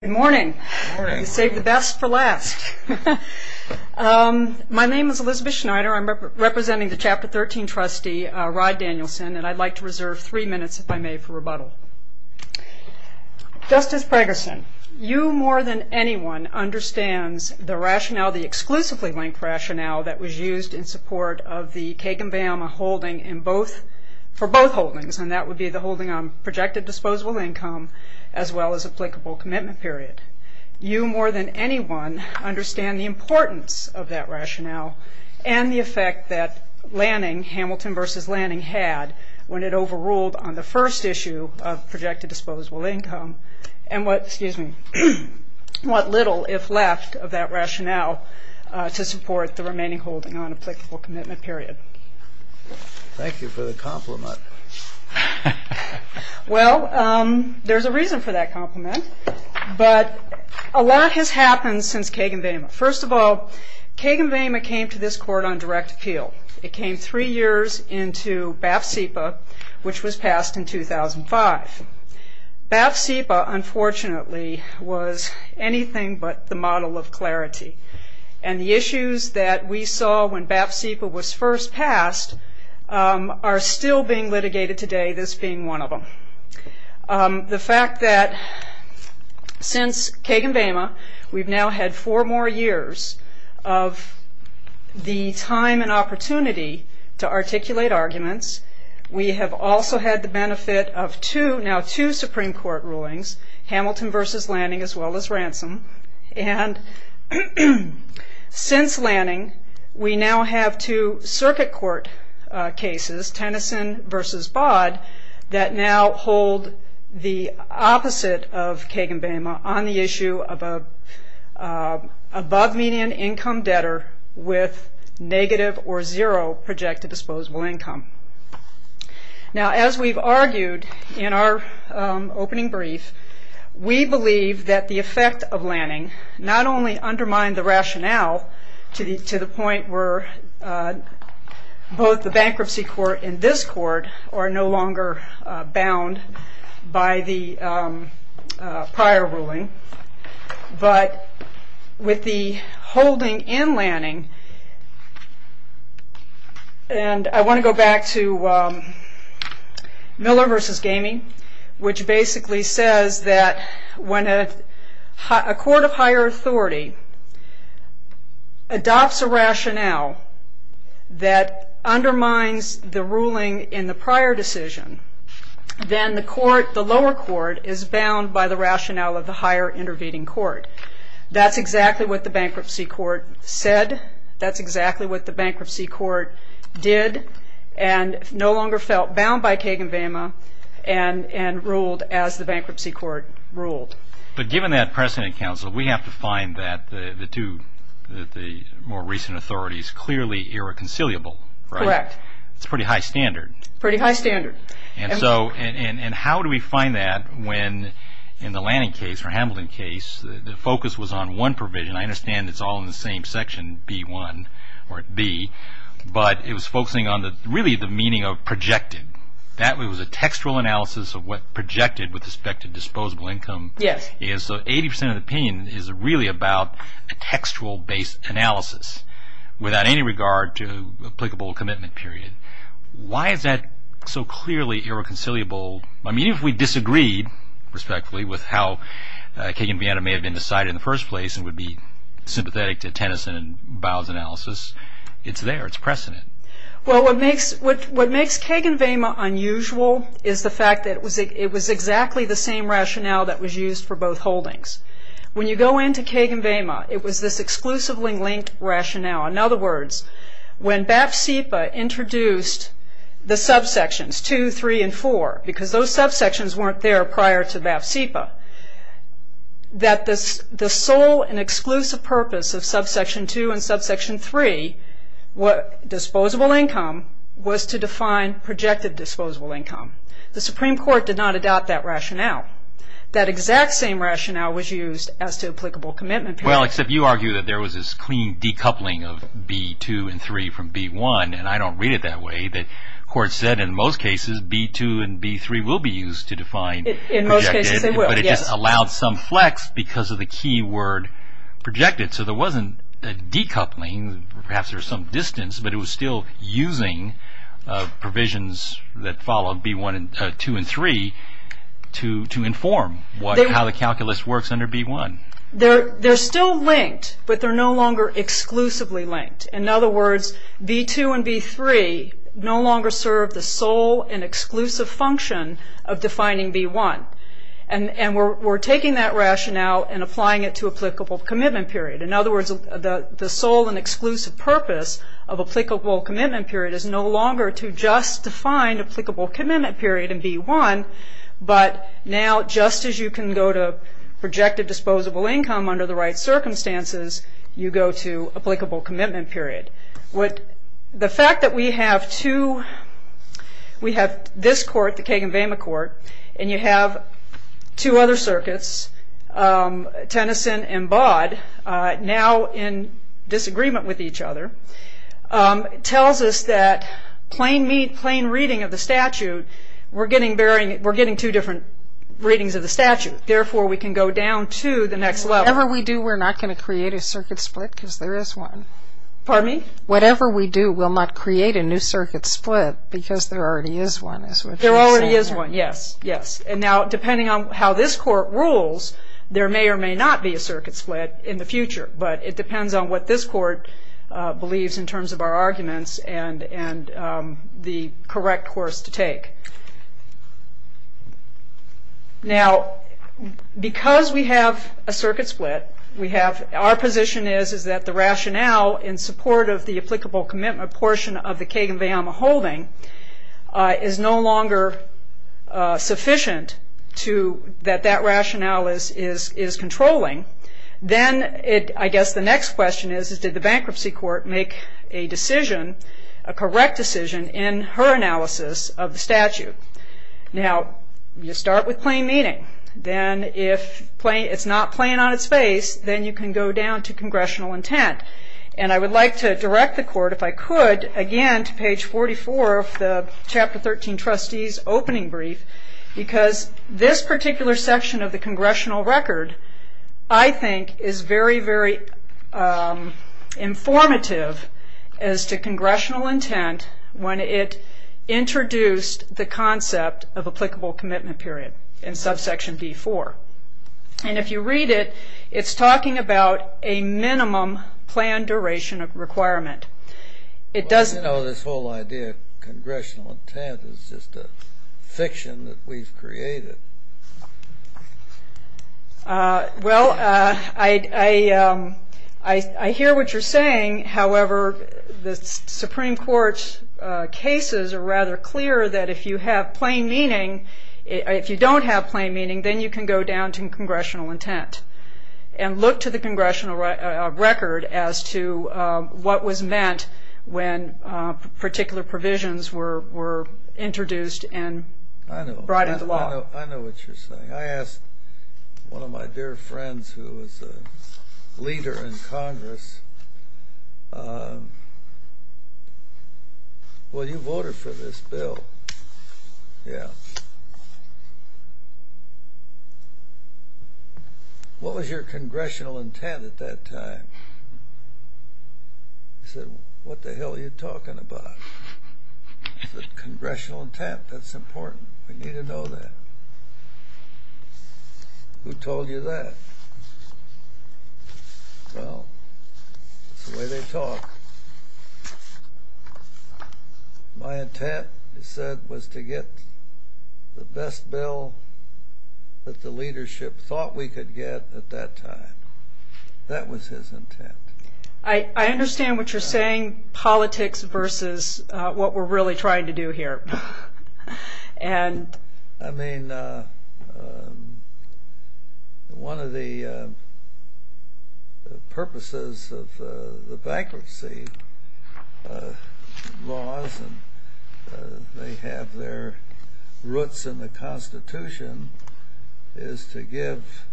Good morning. You saved the best for last. My name is Elizabeth Schneider. I'm representing the Chapter 13 trustee, Rod Danielson, and I'd like to reserve three minutes, if I may, for rebuttal. Justice Pregerson, you more than anyone understands the rationale, the exclusively linked rationale, that was used in support of the Kagan-Vama holding for both holdings, and that would be the holding on projected disposable income as well as applicable commitment period. You more than anyone understand the importance of that rationale and the effect that Lanning, Hamilton v. Lanning, had when it overruled on the first issue of projected disposable income and what little, if left, of that rationale to support the remaining holding on applicable commitment period. Thank you for the compliment. Well, there's a reason for that compliment, but a lot has happened since Kagan-Vama. First of all, Kagan-Vama came to this Court on direct appeal. It came three years into BAF-CEPA, which was passed in 2005. BAF-CEPA, unfortunately, was anything but the model of clarity, and the issues that we saw when BAF-CEPA was first passed are still being litigated today, this being one of them. The fact that since Kagan-Vama, we've now had four more years of the time and opportunity to articulate arguments. We have also had the benefit of two, now two, Supreme Court rulings, Hamilton v. Lanning as well as Ransom. Since Lanning, we now have two circuit court cases, Tennyson v. Baud, that now hold the opposite of Kagan-Vama on the issue of above median income debtor with negative or zero projected disposable income. Now, as we've argued in our opening brief, we believe that the effect of Lanning not only undermined the rationale to the point where both the bankruptcy court and this court are no longer bound by the prior ruling, but with the holding in Lanning, and I want to go back to Miller v. Gamey, which basically says that when a court of higher authority adopts a rationale that undermines the ruling in the prior decision, then the lower court is bound by the rationale of the higher intervening court. That's exactly what the bankruptcy court said. That's exactly what the bankruptcy court did and no longer felt bound by Kagan-Vama and ruled as the bankruptcy court ruled. But given that precedent, counsel, we have to find that the two, the more recent authorities, clearly irreconcilable, right? Correct. It's pretty high standard. Pretty high standard. And how do we find that when in the Lanning case or Hamilton case, the focus was on one provision. I understand it's all in the same section, B1 or B, but it was focusing on really the meaning of projected. That was a textual analysis of what projected with respect to disposable income is. Yes. So 80% of the opinion is really about a textual-based analysis without any regard to applicable commitment period. Why is that so clearly irreconcilable? I mean, if we disagreed respectfully with how Kagan-Vama may have been decided in the first place and would be sympathetic to Tennyson and Bau's analysis, it's there. It's precedent. Well, what makes Kagan-Vama unusual is the fact that it was exactly the same rationale that was used for both holdings. When you go into Kagan-Vama, it was this exclusively linked rationale. In other words, when BAF-CIPA introduced the subsections 2, 3, and 4, because those subsections weren't there prior to BAF-CIPA, that the sole and exclusive purpose of subsection 2 and subsection 3, disposable income, was to define projected disposable income. The Supreme Court did not adopt that rationale. That exact same rationale was used as to applicable commitment period. Well, except you argue that there was this clean decoupling of B2 and B3 from B1. And I don't read it that way. The Court said in most cases B2 and B3 will be used to define projected. In most cases they will, yes. But it just allowed some flex because of the key word projected. So there wasn't a decoupling. Perhaps there was some distance, but it was still using provisions that followed B2 and B3 to inform how the calculus works under B1. They're still linked, but they're no longer exclusively linked. In other words, B2 and B3 no longer serve the sole and exclusive function of defining B1. And we're taking that rationale and applying it to applicable commitment period. In other words, the sole and exclusive purpose of applicable commitment period is no longer to just define applicable commitment period in B1, but now just as you can go to projected disposable income under the right circumstances, you go to applicable commitment period. The fact that we have two, we have this court, the Kagan-Vema court, and you have two other circuits, Tennyson and Baud, now in disagreement with each other, tells us that plain reading of the statute, we're getting two different readings of the statute. Therefore, we can go down to the next level. Whatever we do, we're not going to create a circuit split because there is one. Pardon me? Whatever we do, we'll not create a new circuit split because there already is one. There already is one, yes, yes. And now depending on how this court rules, there may or may not be a circuit split in the future. But it depends on what this court believes in terms of our arguments and the correct course to take. Now, because we have a circuit split, our position is that the rationale in support of the applicable commitment portion of the Kagan-Vema holding is no longer sufficient that that rationale is controlling. Then I guess the next question is, is did the bankruptcy court make a decision, a correct decision in her analysis of the statute? Now, you start with plain meaning. Then if it's not plain on its face, then you can go down to congressional intent. And I would like to direct the court, if I could, again to page 44 of the chapter 13 trustees opening brief, because this particular section of the congressional record, I think, is very, very informative as to congressional intent when it introduced the concept of applicable commitment period in subsection D4. And if you read it, it's talking about a minimum plan duration requirement. You know, this whole idea of congressional intent is just a fiction that we've created. Well, I hear what you're saying. However, the Supreme Court's cases are rather clear that if you have plain meaning, if you don't have plain meaning, then you can go down to congressional intent and look to the congressional record as to what was meant when particular provisions were introduced and brought into law. I know what you're saying. I asked one of my dear friends who was a leader in Congress, well, you voted for this bill. Yeah. What was your congressional intent at that time? He said, what the hell are you talking about? I said, congressional intent, that's important. We need to know that. Who told you that? Well, it's the way they talk. My intent, he said, was to get the best bill that the leadership thought we could get at that time. That was his intent. I understand what you're saying, politics versus what we're really trying to do here. I mean, one of the purposes of the bankruptcy laws, and they have their roots in the Constitution, is to give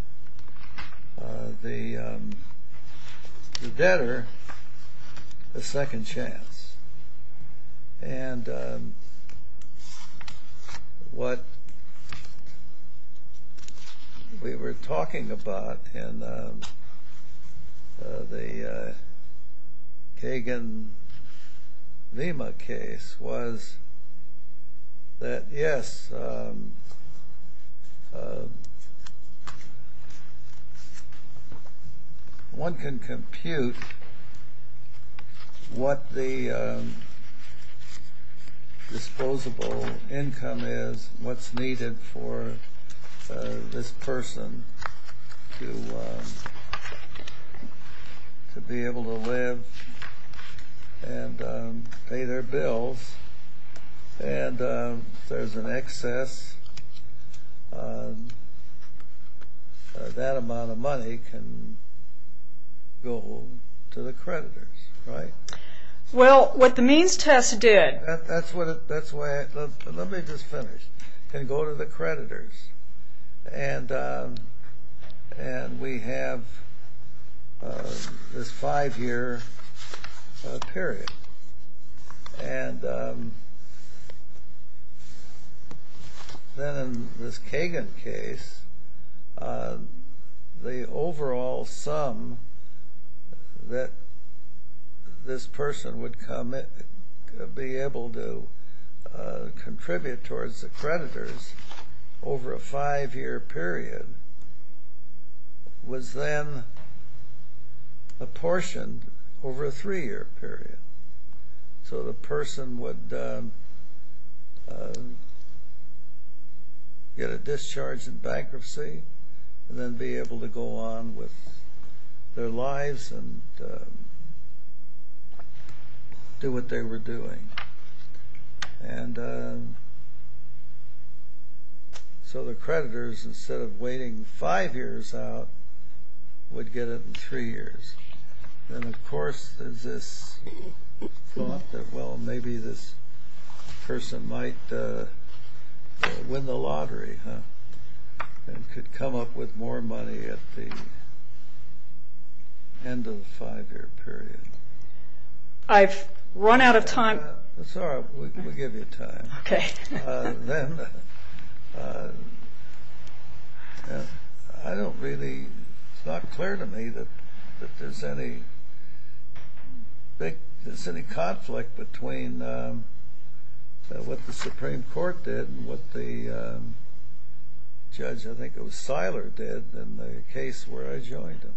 the debtor a second chance. And what we were talking about in the Kagan-Lima case was that, yes, one can compute what the disposable income is, what's needed for this person to be able to live and pay their bills, and if there's an excess, that amount of money can go to the creditors, right? Well, what the means test did Let me just finish and go to the creditors. And we have this five-year period. And then in this Kagan case, the overall sum that this person would be able to contribute towards the creditors over a five-year period was then apportioned over a three-year period. So the person would get a discharge in bankruptcy and then be able to go on with their lives and do what they were doing. And so the creditors, instead of waiting five years out, would get it in three years. And, of course, there's this thought that, well, maybe this person might win the lottery and could come up with more money at the end of the five-year period. I've run out of time. It's all right. We'll give you time. Okay. Then I don't really, it's not clear to me that there's any conflict between what the Supreme Court did and what the judge, I think it was Seiler, did in the case where I joined him.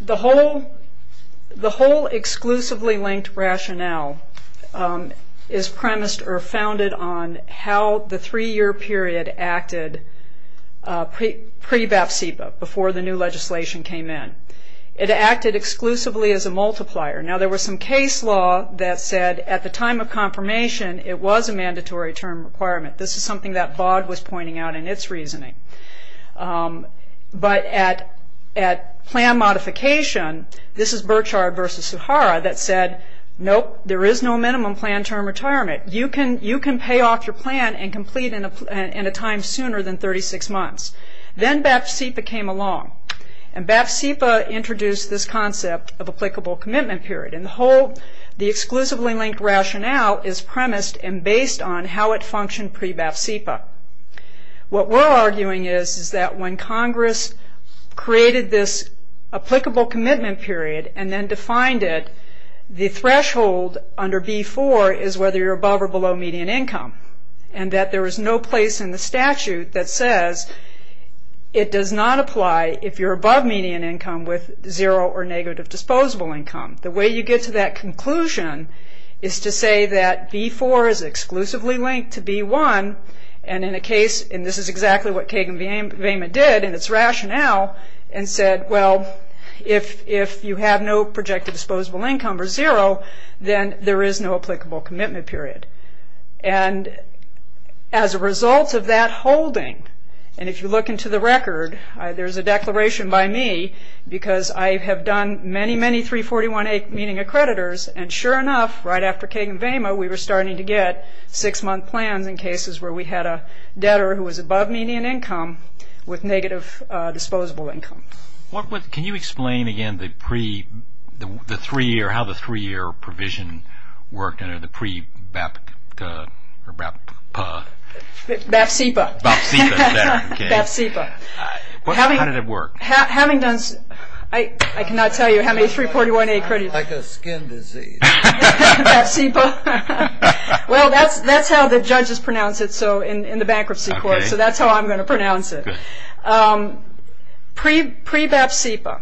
The whole exclusively linked rationale is premised or founded on how the three-year period acted pre-BFSEPA, before the new legislation came in. It acted exclusively as a multiplier. Now, there was some case law that said at the time of confirmation, it was a mandatory term requirement. This is something that BOD was pointing out in its reasoning. But at plan modification, this is Burchard versus Sahara that said, nope, there is no minimum plan term retirement. You can pay off your plan and complete in a time sooner than 36 months. Then BFSEPA came along. And BFSEPA introduced this concept of applicable commitment period. And the whole, the exclusively linked rationale is premised and based on how it functioned pre-BFSEPA. What we're arguing is that when Congress created this applicable commitment period and then defined it, the threshold under B-4 is whether you're above or below median income. And that there is no place in the statute that says it does not apply if you're above median income with zero or negative disposable income. The way you get to that conclusion is to say that B-4 is exclusively linked to B-1 and in a case, and this is exactly what Kagan-Vema did in its rationale and said, well, if you have no projected disposable income or zero, then there is no applicable commitment period. And as a result of that holding, and if you look into the record, there's a declaration by me because I have done many, many 341A meeting accreditors, and sure enough, right after Kagan-Vema, we were starting to get six-month plans in cases where we had a debtor who was above median income with negative disposable income. Can you explain again the three-year, how the three-year provision worked under the pre-BFSEPA? BFSEPA. How did it work? Having done, I cannot tell you how many 341A accreditors. Sounds like a skin disease. BFSEPA. Well, that's how the judges pronounce it in the bankruptcy court, so that's how I'm going to pronounce it. Pre-BFSEPA,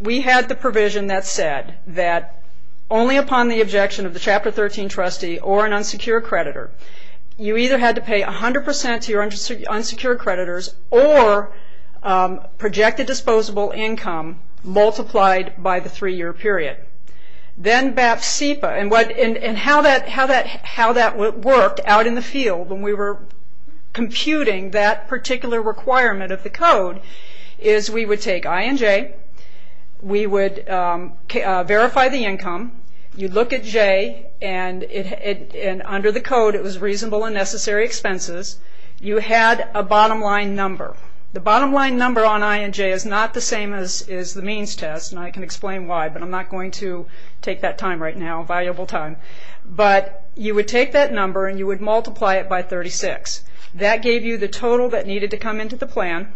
we had the provision that said that only upon the objection of the Chapter 13 trustee or an unsecure creditor, you either had to pay 100% to your unsecure creditors or project a disposable income multiplied by the three-year period. Then BFSEPA, and how that worked out in the field when we were computing that particular requirement of the code is we would take I and J, we would verify the income, you'd look at J, and under the code it was reasonable and necessary expenses. You had a bottom-line number. The bottom-line number on I and J is not the same as the means test, and I can explain why, but I'm not going to take that time right now, valuable time, but you would take that number and you would multiply it by 36. That gave you the total that needed to come into the plan.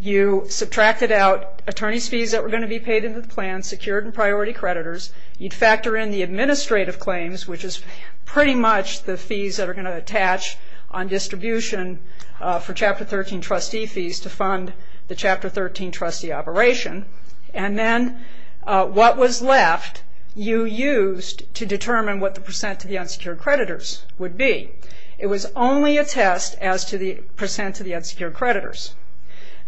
You subtracted out attorney's fees that were going to be paid into the plan, secured and priority creditors. You'd factor in the administrative claims, which is pretty much the fees that are going to attach on distribution for Chapter 13 trustee fees to fund the Chapter 13 trustee operation, and then what was left you used to determine what the percent to the unsecured creditors would be. It was only a test as to the percent to the unsecured creditors.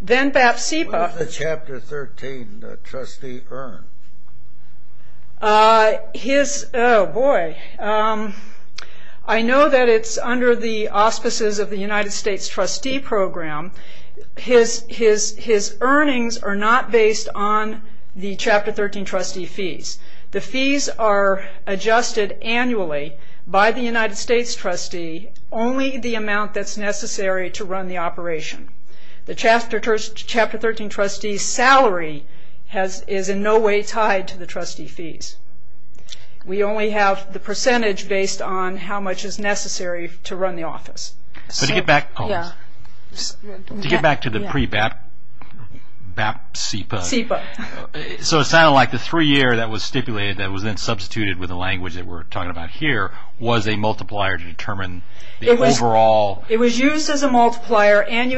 Then BFSEPA... What did the Chapter 13 trustee earn? Oh, boy. I know that it's under the auspices of the United States trustee program. His earnings are not based on the Chapter 13 trustee fees. The fees are adjusted annually by the United States trustee, only the amount that's necessary to run the operation. The Chapter 13 trustee's salary is in no way tied to the trustee fees. We only have the percentage based on how much is necessary to run the office. To get back to the pre-BFSEPA, so it sounded like the three-year that was stipulated that was then substituted with the language that we're talking about here was a multiplier to determine the overall... We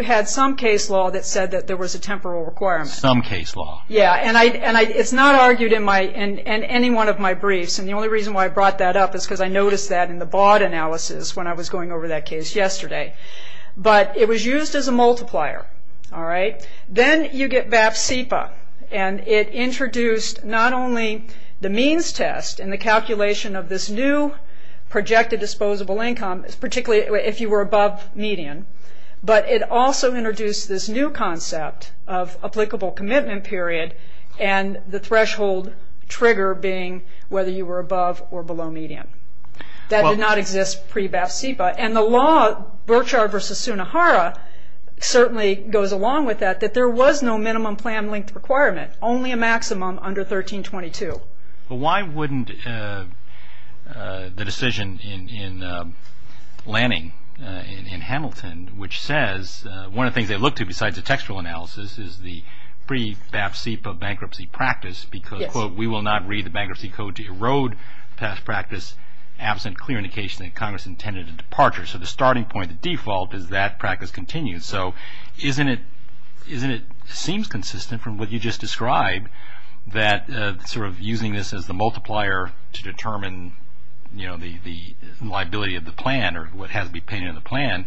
had some case law that said that there was a temporal requirement. Some case law. Yeah, and it's not argued in any one of my briefs, and the only reason why I brought that up is because I noticed that in the BOD analysis when I was going over that case yesterday, but it was used as a multiplier. Then you get BFSEPA, and it introduced not only the means test and the calculation of this new projected disposable income, particularly if you were above median, but it also introduced this new concept of applicable commitment period and the threshold trigger being whether you were above or below median. That did not exist pre-BFSEPA, and the law, Burchard v. Sunohara, certainly goes along with that, that there was no minimum plan length requirement, only a maximum under 1322. But why wouldn't the decision in Lanning, in Hamilton, which says one of the things they look to besides the textual analysis is the pre-BFSEPA bankruptcy practice because, quote, we will not read the bankruptcy code to erode past practice absent clear indication that Congress intended a departure. So the starting point, the default, is that practice continues. So isn't it... It seems consistent from what you just described that sort of using this as the multiplier to determine the liability of the plan or what has to be paid in the plan,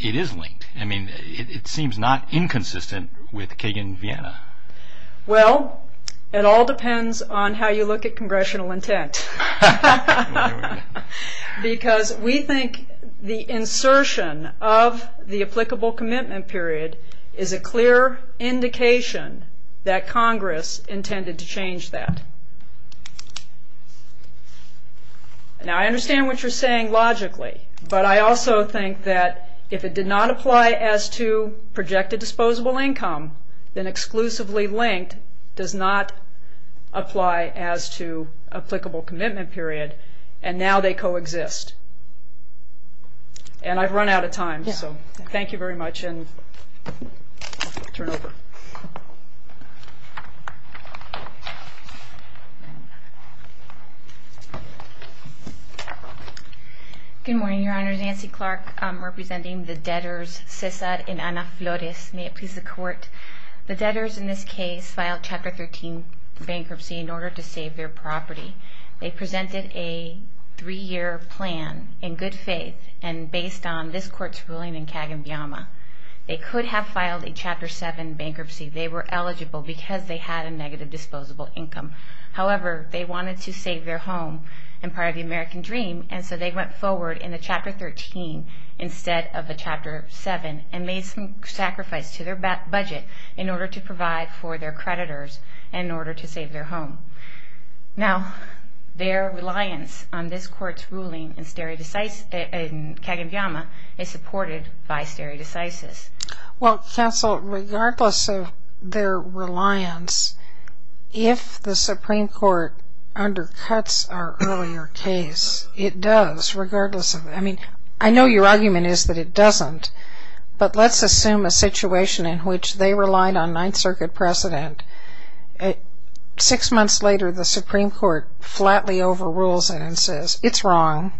it is linked. I mean, it seems not inconsistent with Kagan v. Vienna. Well, it all depends on how you look at congressional intent. Because we think the insertion of the applicable commitment period is a clear indication that Congress intended to change that. Now, I understand what you're saying logically, but I also think that if it did not apply as to projected disposable income, then exclusively linked does not apply as to applicable commitment period, and now they coexist. And I've run out of time, so thank you very much. And I'll turn it over. Good morning, Your Honors. Nancy Clark representing the debtors Cesar and Ana Flores. May it please the Court. The debtors in this case filed Chapter 13 bankruptcy in order to save their property. They presented a three-year plan in good faith and based on this Court's ruling in Kagan v. Vienna. They could have filed a Chapter 7 bankruptcy. They were eligible because they had a negative disposable income. However, they wanted to save their home and part of the American dream, and so they went forward in the Chapter 13 instead of the Chapter 7 and made some sacrifice to their budget in order to provide for their creditors and in order to save their home. Now, their reliance on this Court's ruling in Kagan v. Vienna is supported by stare decisis. Well, counsel, regardless of their reliance, if the Supreme Court undercuts our earlier case, it does, regardless of... I mean, I know your argument is that it doesn't, but let's assume a situation in which they relied on Ninth Circuit precedent. Six months later, the Supreme Court flatly overrules it and says, it's wrong.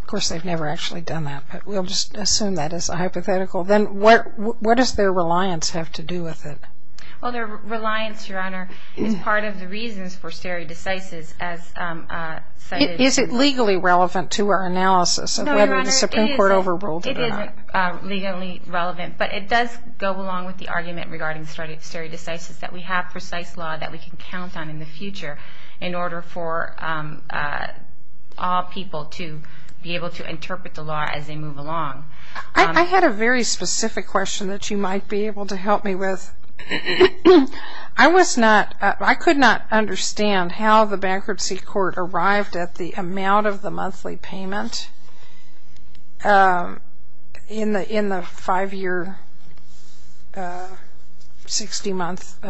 Of course, they've never actually done that, but we'll just assume that as a hypothetical. Then what does their reliance have to do with it? Well, their reliance, Your Honor, is part of the reasons for stare decisis as cited... Is it legally relevant to our analysis of whether the Supreme Court overruled it or not? No, Your Honor, it isn't legally relevant, but it does go along with the argument regarding stare decisis that we have precise law that we can count on in the future in order for all people to be able to interpret the law as they move along. I had a very specific question that you might be able to help me with. I could not understand how the Bankruptcy Court arrived at the amount of the monthly payment in the five-year, 60-month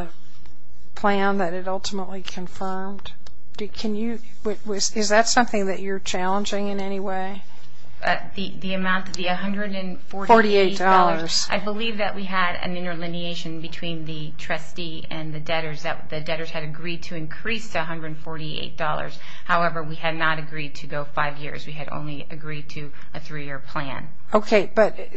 plan that it ultimately confirmed. Is that something that you're challenging in any way? The amount, the $148. I believe that we had an interlineation between the trustee and the debtors. The debtors had agreed to increase the $148. However, we had not agreed to go five years. We had only agreed to a three-year plan. Okay,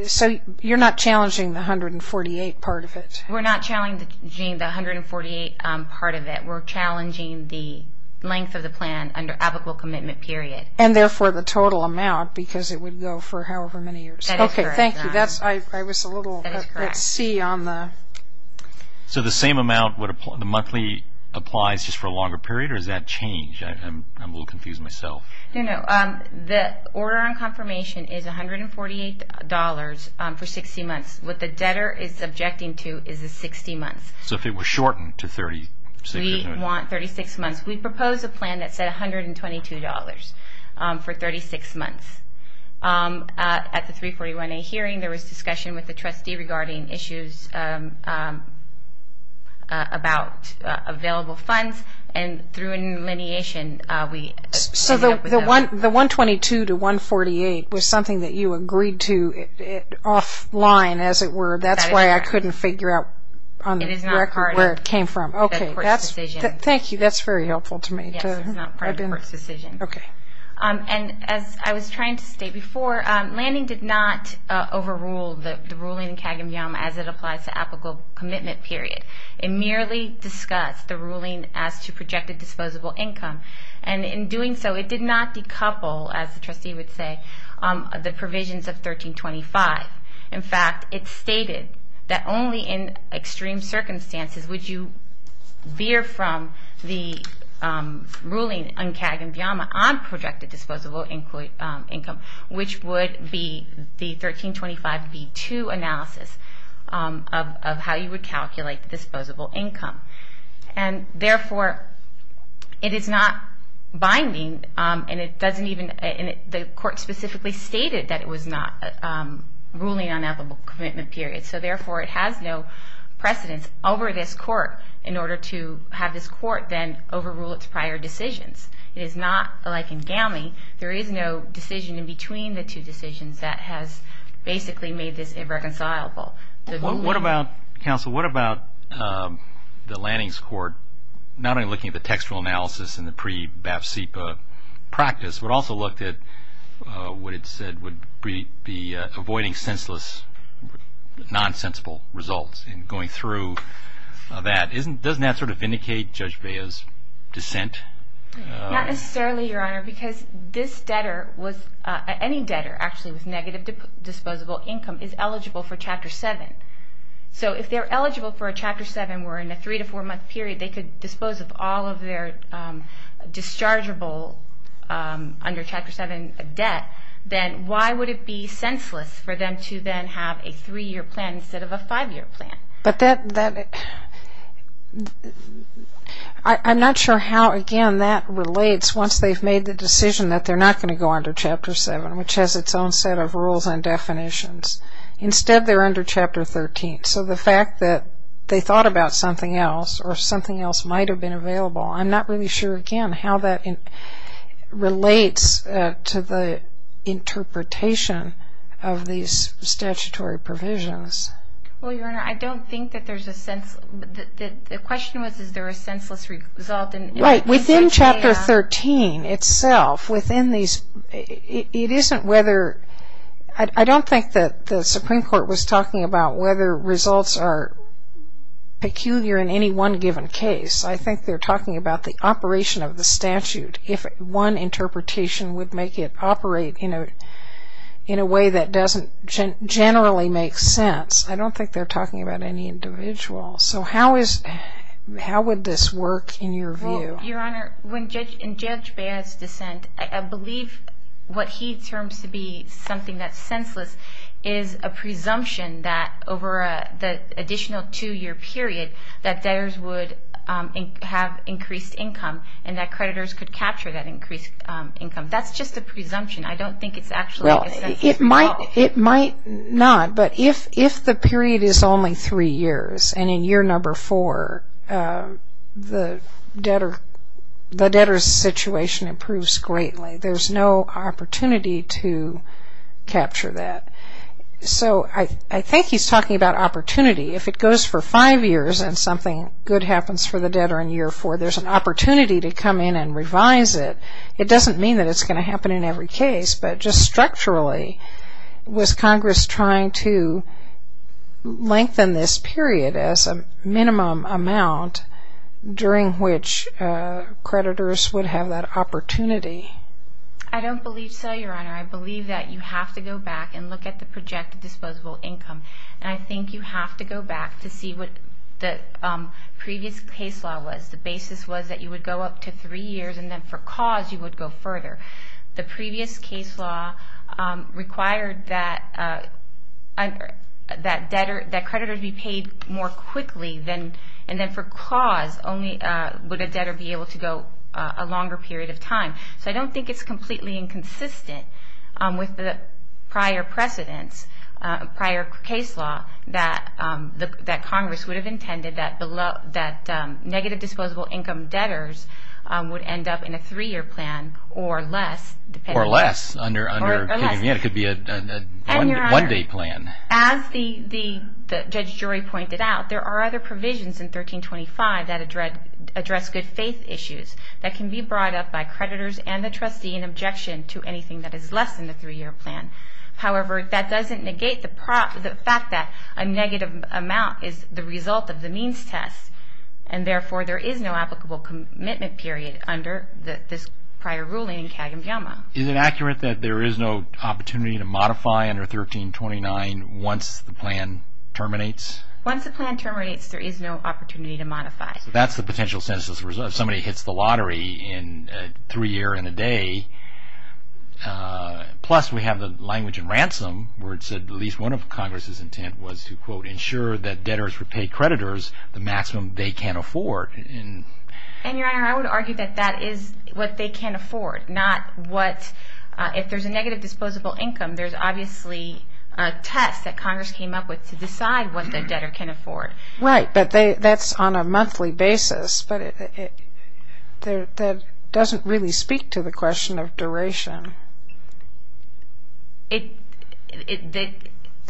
so you're not challenging the $148 part of it? We're not challenging the $148 part of it. We're challenging the length of the plan under applicable commitment period. And therefore, the total amount, because it would go for however many years. That is correct, Your Honor. Okay, thank you. I was a little at sea on the... So the same amount, the monthly applies just for a longer period, or does that change? I'm a little confused myself. No, no. The order on confirmation is $148 for 60 months. What the debtor is objecting to is the 60 months. So if it were shortened to 30... We want 36 months. We proposed a plan that said $122 for 36 months. At the 341A hearing, there was discussion with the trustee regarding issues about available funds. And through an allineation, we... So the $122 to $148 was something that you agreed to offline, as it were. That's why I couldn't figure out on the record where it came from. It is not part of the court's decision. Okay, thank you. That's very helpful to me. Yes, it's not part of the court's decision. Okay. And as I was trying to state before, Lanning did not overrule the ruling in CAG and VIAMA as it applies to applicable commitment period. It merely discussed the ruling as to projected disposable income. And in doing so, it did not decouple, as the trustee would say, the provisions of 1325. In fact, it stated that only in extreme circumstances would you veer from the ruling on CAG and VIAMA on projected disposable income, which would be the 1325B2 analysis of how you would calculate disposable income. And therefore, it is not binding, and it doesn't even... The court specifically stated that it was not ruling on applicable commitment period. So therefore, it has no precedence over this court in order to have this court then overrule its prior decisions. It is not like in GAMI. There is no decision in between the two decisions that has basically made this irreconcilable. What about, counsel, what about the Lanning's court not only looking at the textual analysis and the pre-BAF-CEPA practice, but also looked at what it said would be avoiding senseless, nonsensical results in going through that. Doesn't that sort of vindicate Judge Vea's dissent? Not necessarily, Your Honor, because this debtor was... Any debtor, actually, with negative disposable income is eligible for Chapter 7. So if they're eligible for a Chapter 7 where in a three- to four-month period they could dispose of all of their dischargeable under Chapter 7 debt, then why would it be senseless for them to then have a three-year plan instead of a five-year plan? But that... I'm not sure how, again, that relates once they've made the decision that they're not going to go under Chapter 7, which has its own set of rules and definitions. Instead, they're under Chapter 13. So the fact that they thought about something else or something else might have been available, I'm not really sure, again, how that relates to the interpretation of these statutory provisions. Well, Your Honor, I don't think that there's a sense... The question was, is there a senseless result in... Right, within Chapter 13 itself, within these... It isn't whether... I don't think that the Supreme Court was talking about whether results are peculiar in any one given case. I think they're talking about the operation of the statute, if one interpretation would make it operate in a way that doesn't generally make sense. I don't think they're talking about any individual. So how would this work in your view? Well, Your Honor, in Judge Baird's dissent, I believe what he terms to be something that's senseless is a presumption that over the additional two-year period that debtors would have increased income and that creditors could capture that increased income. That's just a presumption. I don't think it's actually... Well, it might not, but if the period is only three years and in year number four the debtor's situation improves greatly, there's no opportunity to capture that. So I think he's talking about opportunity. If it goes for five years and something good happens for the debtor in year four, there's an opportunity to come in and revise it. It doesn't mean that it's going to happen in every case, but just structurally was Congress trying to lengthen this period as a minimum amount during which creditors would have that opportunity? I don't believe so, Your Honor. I believe that you have to go back and look at the projected disposable income, and I think you have to go back to see what the previous case law was. The basis was that you would go up to three years, and then for cause you would go further. The previous case law required that creditors be paid more quickly, and then for cause only would a debtor be able to go a longer period of time. So I don't think it's completely inconsistent with the prior precedence, prior case law, that Congress would have intended that negative disposable income debtors would end up in a three-year plan or less. Or less. It could be a one-day plan. As the judge jury pointed out, there are other provisions in 1325 that address good faith issues that can be brought up by creditors and the trustee in objection to anything that is less than the three-year plan. However, that doesn't negate the fact that a negative amount is the result of the means test, and therefore there is no applicable commitment period under this prior ruling in Kagem-Gyama. Is it accurate that there is no opportunity to modify under 1329 once the plan terminates? Once the plan terminates, there is no opportunity to modify. That's the potential sentence as a result. If somebody hits the lottery in three years and a day, plus we have the language of ransom, where it said at least one of Congress' intent was to, quote, ensure that debtors would pay creditors the maximum they can afford. And, Your Honor, I would argue that that is what they can afford, not what, if there's a negative disposable income, there's obviously a test that Congress came up with to decide what the debtor can afford. Right, but that's on a monthly basis. But that doesn't really speak to the question of duration. The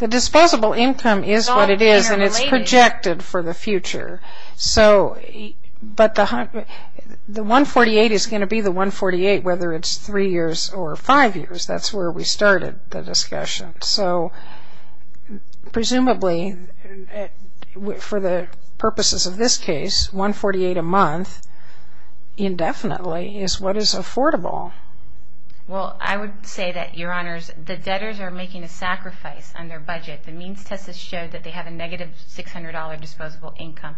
disposable income is what it is, and it's projected for the future. But the 148 is going to be the 148 whether it's three years or five years. That's where we started the discussion. So, presumably, for the purposes of this case, 148 a month indefinitely is what is affordable. Well, I would say that, Your Honors, the debtors are making a sacrifice on their budget. The means test has shown that they have a negative $600 disposable income.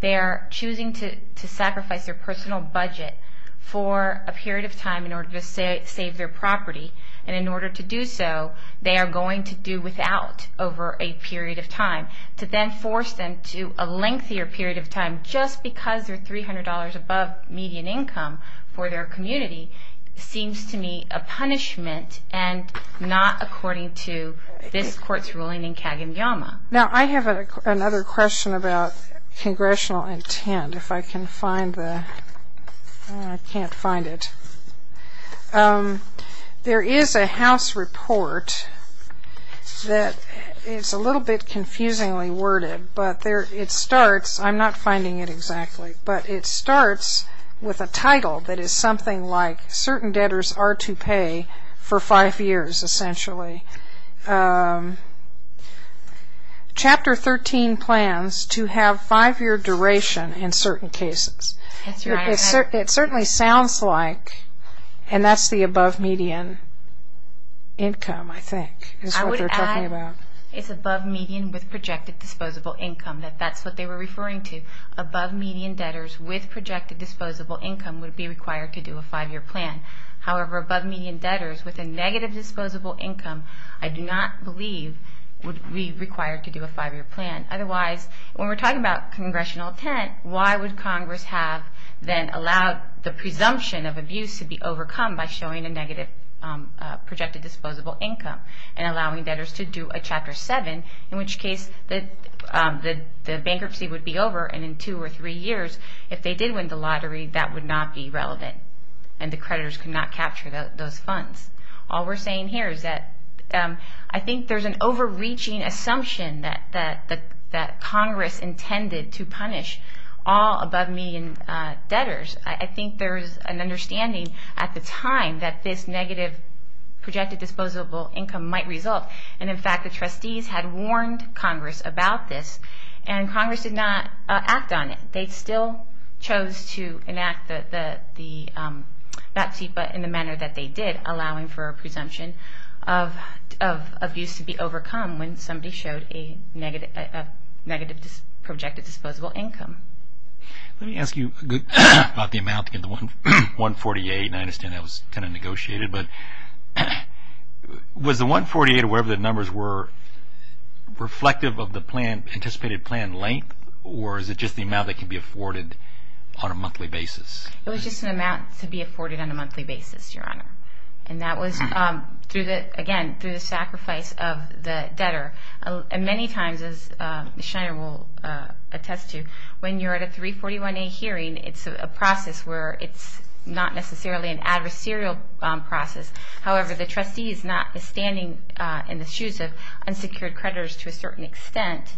They are choosing to sacrifice their personal budget for a period of time in order to save their property. And in order to do so, they are going to do without over a period of time. To then force them to a lengthier period of time just because they're $300 above median income for their community seems to me a punishment and not according to this Court's ruling in Kagan-Yama. Now, I have another question about congressional intent. If I can find the... I can't find it. There is a House report that is a little bit confusingly worded, but it starts... I'm not finding it exactly, but it starts with a title that is something like for five years, essentially. Chapter 13 plans to have five-year duration in certain cases. It certainly sounds like, and that's the above median income, I think, is what they're talking about. I would add it's above median with projected disposable income, that that's what they were referring to. Above median debtors with projected disposable income would be required to do a five-year plan. However, above median debtors with a negative disposable income I do not believe would be required to do a five-year plan. Otherwise, when we're talking about congressional intent, why would Congress have then allowed the presumption of abuse to be overcome by showing a negative projected disposable income and allowing debtors to do a Chapter 7, in which case the bankruptcy would be over and in two or three years, if they did win the lottery, that would not be relevant and the creditors could not capture those funds. All we're saying here is that I think there's an overreaching assumption that Congress intended to punish all above median debtors. I think there's an understanding at the time that this negative projected disposable income might result, and in fact the trustees had warned Congress about this, and Congress did not act on it. They still chose to enact the BATSEPA in the manner that they did, allowing for a presumption of abuse to be overcome when somebody showed a negative projected disposable income. Let me ask you about the amount in the 148, and I understand that was kind of negotiated, but was the 148 or whatever the numbers were reflective of the anticipated plan length, or is it just the amount that can be afforded on a monthly basis? It was just an amount to be afforded on a monthly basis, Your Honor. And that was, again, through the sacrifice of the debtor. Many times, as Ms. Schneider will attest to, when you're at a 341A hearing, it's a process where it's not necessarily an adversarial process. However, the trustee is standing in the shoes of unsecured creditors to a certain extent,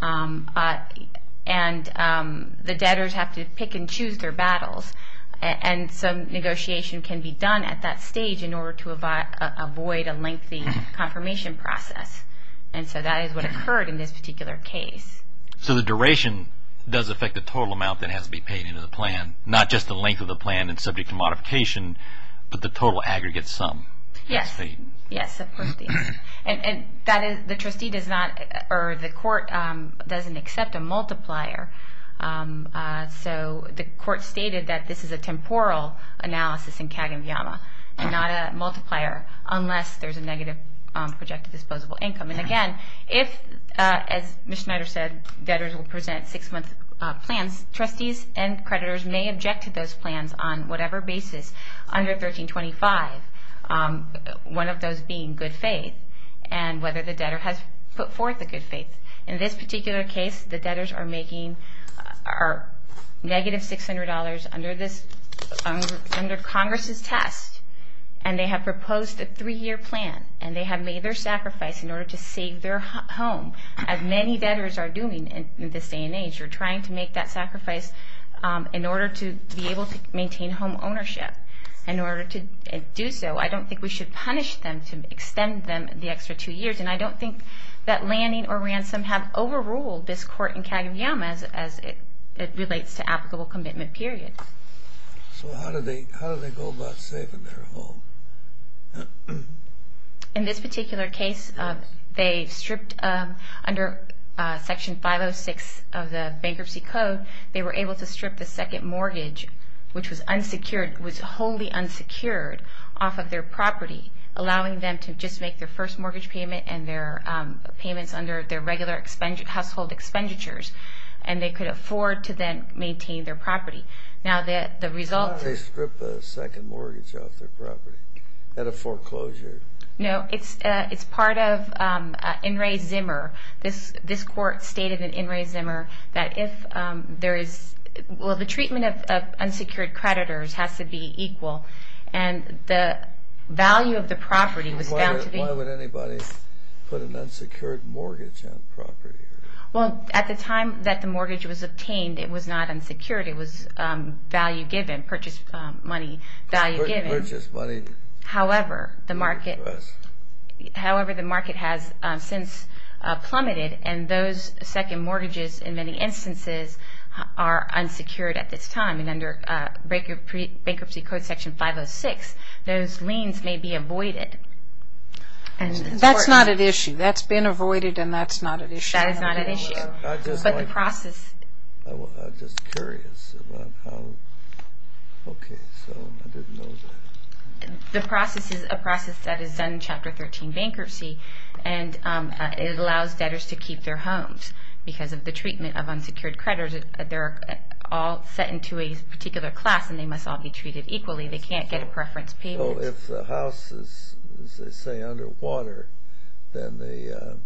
and the debtors have to pick and choose their battles, and some negotiation can be done at that stage in order to avoid a lengthy confirmation process. And so that is what occurred in this particular case. So the duration does affect the total amount that has to be paid into the plan, not just the length of the plan and subject to modification, but the total aggregate sum. Yes, yes. And the trustee does not, or the court doesn't accept a multiplier. So the court stated that this is a temporal analysis in CAG and VIAMA, and not a multiplier unless there's a negative projected disposable income. And again, if, as Ms. Schneider said, debtors will present six-month plans, trustees and creditors may object to those plans on whatever basis under 1325, one of those being good faith and whether the debtor has put forth a good faith. In this particular case, the debtors are making negative $600 under Congress' test, and they have proposed a three-year plan, and they have made their sacrifice in order to save their home. As many debtors are doing in this day and age, they're trying to make that sacrifice in order to be able to maintain home ownership. In order to do so, I don't think we should punish them to extend them the extra two years, and I don't think that Lanning or Ransom have overruled this court in CAG and VIAMA as it relates to applicable commitment period. So how do they go about saving their home? In this particular case, they stripped under Section 506 of the Bankruptcy Code, they were able to strip the second mortgage, which was unsecured, was wholly unsecured off of their property, allowing them to just make their first mortgage payment and their payments under their regular household expenditures, and they could afford to then maintain their property. Why did they strip the second mortgage off their property? At a foreclosure? No, it's part of In re Zimmer. This court stated in In re Zimmer that if there is... Well, the treatment of unsecured creditors has to be equal, and the value of the property was found to be... Why would anybody put an unsecured mortgage on property? Well, at the time that the mortgage was obtained, it was not unsecured. It was value given, purchase money value given. Purchase money. However, the market has since plummeted, and those second mortgages in many instances are unsecured at this time. And under Bankruptcy Code Section 506, those liens may be avoided. That's not an issue. That's been avoided, and that's not an issue. That is not an issue. But the process... I'm just curious about how... Okay, so I didn't know that. The process is a process that is done in Chapter 13, Bankruptcy, and it allows debtors to keep their homes because of the treatment of unsecured creditors. They're all set into a particular class, and they must all be treated equally. They can't get a preference payment. So if the house is, as they say, underwater, then the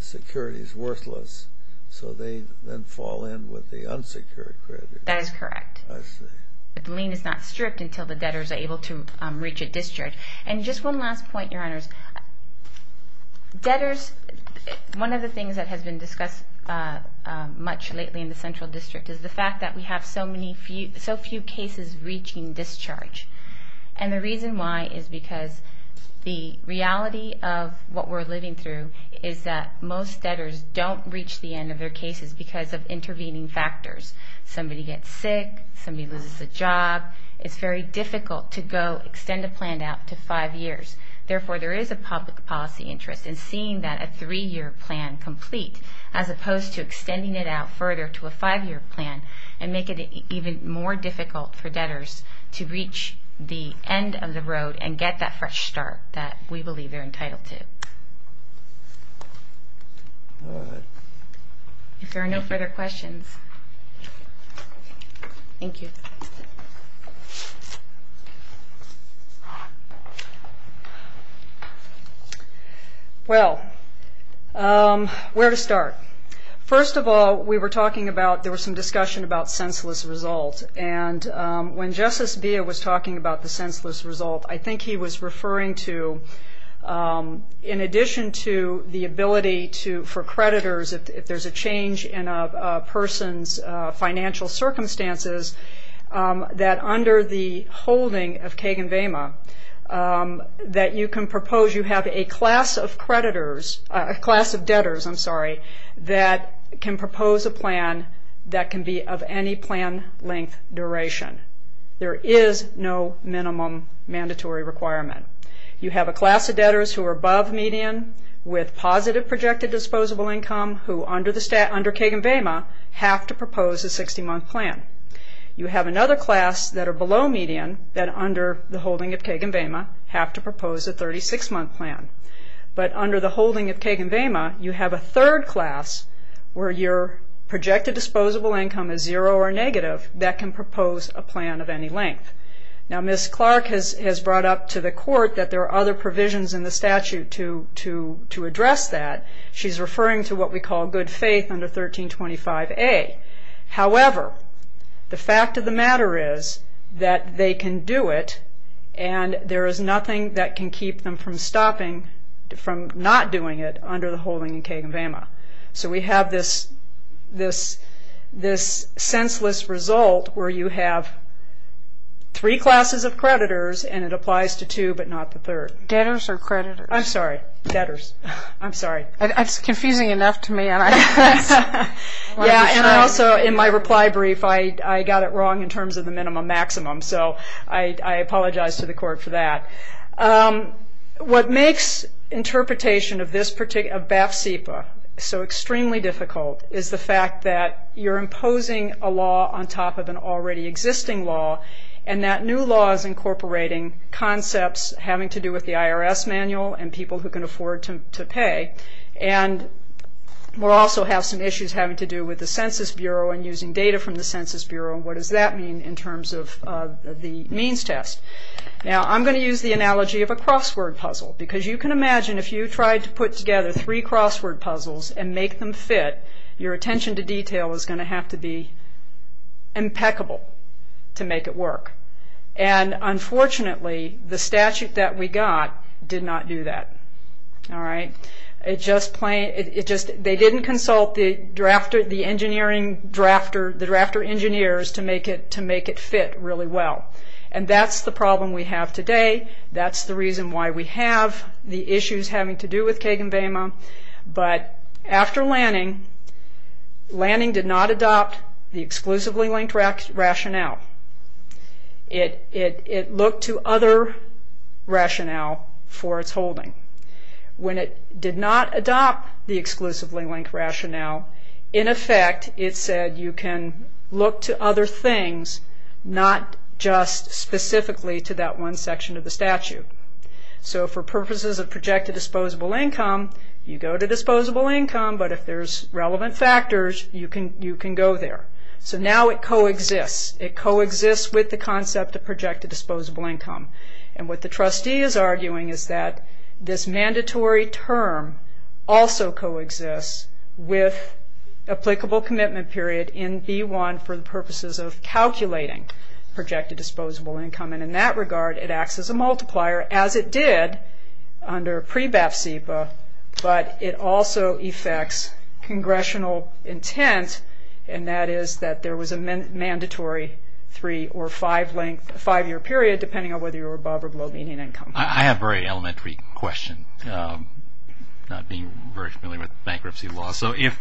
security is worthless, so they then fall in with the unsecured creditors. That is correct. I see. But the lien is not stripped until the debtors are able to reach a discharge. And just one last point, Your Honors. Debtors... One of the things that has been discussed much lately in the Central District is the fact that we have so few cases reaching discharge. And the reason why is because the reality of what we're living through is that most debtors don't reach the end of their cases because of intervening factors. Somebody gets sick, somebody loses a job. It's very difficult to go extend a plan out to five years. Therefore, there is a public policy interest in seeing that a three-year plan complete as opposed to extending it out further to a five-year plan and make it even more difficult for debtors to reach the end of the road and get that fresh start that we believe they're entitled to. All right. If there are no further questions... Thank you. Thank you. Well, where to start? First of all, we were talking about... there was some discussion about senseless result. And when Justice Beah was talking about the senseless result, I think he was referring to, in addition to the ability for creditors, if there's a change in a person's financial circumstances, that under the holding of Kagan-Vema, that you can propose... you have a class of creditors... a class of debtors, I'm sorry, that can propose a plan that can be of any plan length duration. There is no minimum mandatory requirement. You have a class of debtors who are above median with positive projected disposable income who, under Kagan-Vema, have to propose a 60-month plan. You have another class that are below median that, under the holding of Kagan-Vema, have to propose a 36-month plan. But under the holding of Kagan-Vema, you have a third class where your projected disposable income is zero or negative that can propose a plan of any length. Now, Ms. Clark has brought up to the Court that there are other provisions in the statute to address that. She's referring to what we call good faith under 1325A. However, the fact of the matter is that they can do it and there is nothing that can keep them from stopping... from not doing it under the holding of Kagan-Vema. So we have this senseless result where you have three classes of creditors and it applies to two but not the third. Debtors or creditors? I'm sorry. Debtors. I'm sorry. That's confusing enough to me, and I... Yeah, and I also, in my reply brief, I got it wrong in terms of the minimum-maximum, so I apologize to the Court for that. What makes interpretation of this particular... of BAF-CEPA so extremely difficult is the fact that you're imposing a law on top of an already existing law and that new law is incorporating concepts having to do with the IRS manual and people who can afford to pay. And we'll also have some issues having to do with the Census Bureau and using data from the Census Bureau and what does that mean in terms of the means test. Now, I'm going to use the analogy of a crossword puzzle because you can imagine if you tried to put together three crossword puzzles and make them fit, your attention to detail is going to have to be impeccable to make it work. And unfortunately, the statute that we got did not do that. All right? It just plain... It just... They didn't consult the drafter... the engineering drafter... the drafter-engineers to make it... to make it fit really well. And that's the problem we have today. That's the reason why we have the issues having to do with Kagan-Vema. But after Lanning, Lanning did not adopt the exclusively-linked rationale. It looked to other rationale for its holding. When it did not adopt the exclusively-linked rationale, in effect, it said you can look to other things, not just specifically to that one section of the statute. So for purposes of projected disposable income, you go to disposable income, but if there's relevant factors, you can go there. So now it coexists. It coexists with the concept of projected disposable income. And what the trustee is arguing is that this mandatory term also coexists with applicable commitment period in B1 for the purposes of calculating projected disposable income. And in that regard, it acts as a multiplier, as it did under pre-BAF-SEPA, but it also effects congressional intent, and that is that there was a mandatory three- or five-year period, depending on whether you were above or below median income. I have a very elementary question, not being very familiar with bankruptcy law. So if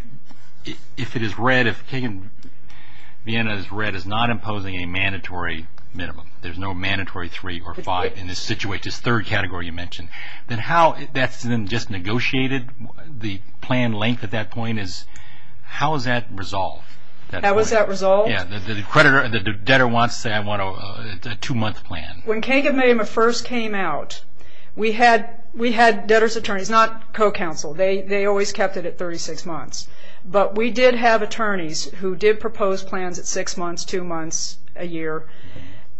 it is read... if Kagan-Vena is read as not imposing a mandatory minimum, there's no mandatory three or five in this situation, this third category you mentioned, then how... that's just negotiated? The plan length at that point is... how is that resolved? How is that resolved? Yeah, the creditor, the debtor wants to say, I want a two-month plan. When Kagan-Vena first came out, we had debtor's attorneys, not co-counsel. They always kept it at 36 months. But we did have attorneys who did propose plans at six months, two months, a year.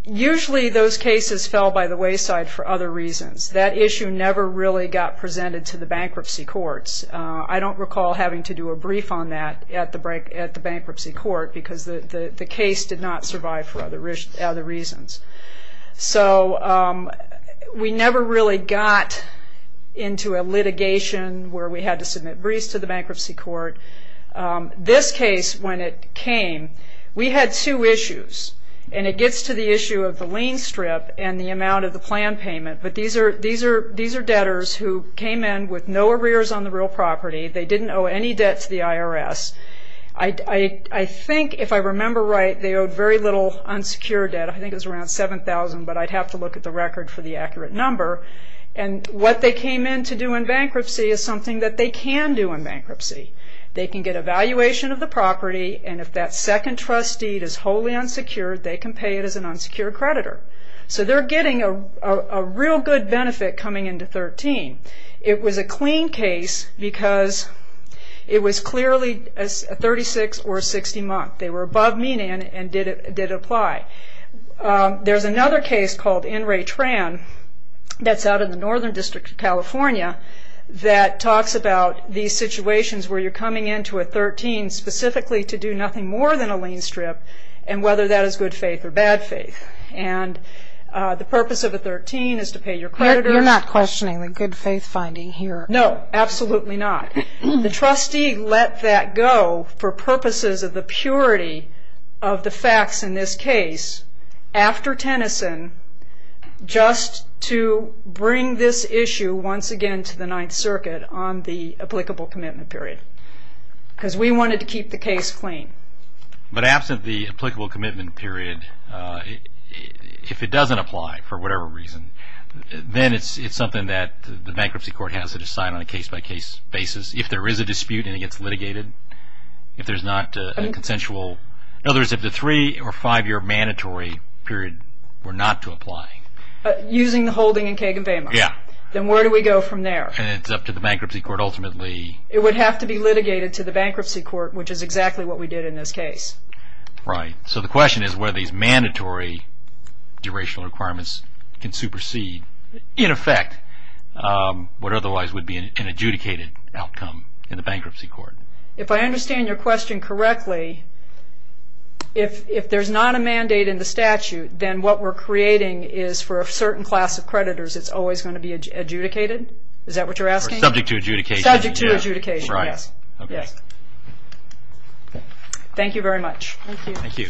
Usually those cases fell by the wayside for other reasons. That issue never really got presented to the bankruptcy courts. I don't recall having to do a brief on that at the bankruptcy court because the case did not survive for other reasons. So we never really got into a litigation where we had to submit briefs to the bankruptcy court. This case, when it came, we had two issues, and it gets to the issue of the lien strip and the amount of the plan payment. But these are debtors who came in with no arrears on the real property. They didn't owe any debt to the IRS. I think, if I remember right, they owed very little unsecured debt. I think it was around $7,000, but I'd have to look at the record for the accurate number. And what they came in to do in bankruptcy They can get a valuation of the property, and if that second trust deed is wholly unsecured, they can pay it as an unsecured creditor. So they're getting a real good benefit coming into 13. It was a clean case because it was clearly a 36 or a 60 month. They were above median and did apply. There's another case called In Re Tran that's out in the Northern District of California that talks about these situations where you're coming into a 13 specifically to do nothing more than a lien strip and whether that is good faith or bad faith. And the purpose of a 13 is to pay your creditor. You're not questioning the good faith finding here. No, absolutely not. The trustee let that go for purposes of the purity of the facts in this case after Tennyson just to bring this issue once again to the Ninth Circuit on the applicable commitment period. Because we wanted to keep the case clean. But absent the applicable commitment period, if it doesn't apply for whatever reason, then it's something that the bankruptcy court has to decide on a case-by-case basis. If there is a dispute and it gets litigated, if there's not a consensual, in other words, if the three or five year mandatory period were not to apply. Using the holding in Kagan-Vema. Yeah. Then where do we go from there? It's up to the bankruptcy court ultimately. It would have to be litigated to the bankruptcy court, which is exactly what we did in this case. Right. So the question is where these mandatory durational requirements can supersede, in effect, what otherwise would be an adjudicated outcome in the bankruptcy court. If I understand your question correctly, if there's not a mandate in the statute, then what we're creating is for a certain class of creditors, it's always going to be adjudicated? Is that what you're asking? Subject to adjudication. Subject to adjudication, yes. Right. Okay. Thank you very much. Thank you. Thank you.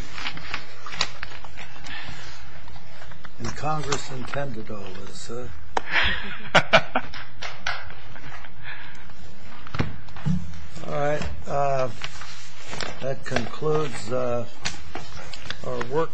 And Congress intended all this. All right. That concludes our work for today.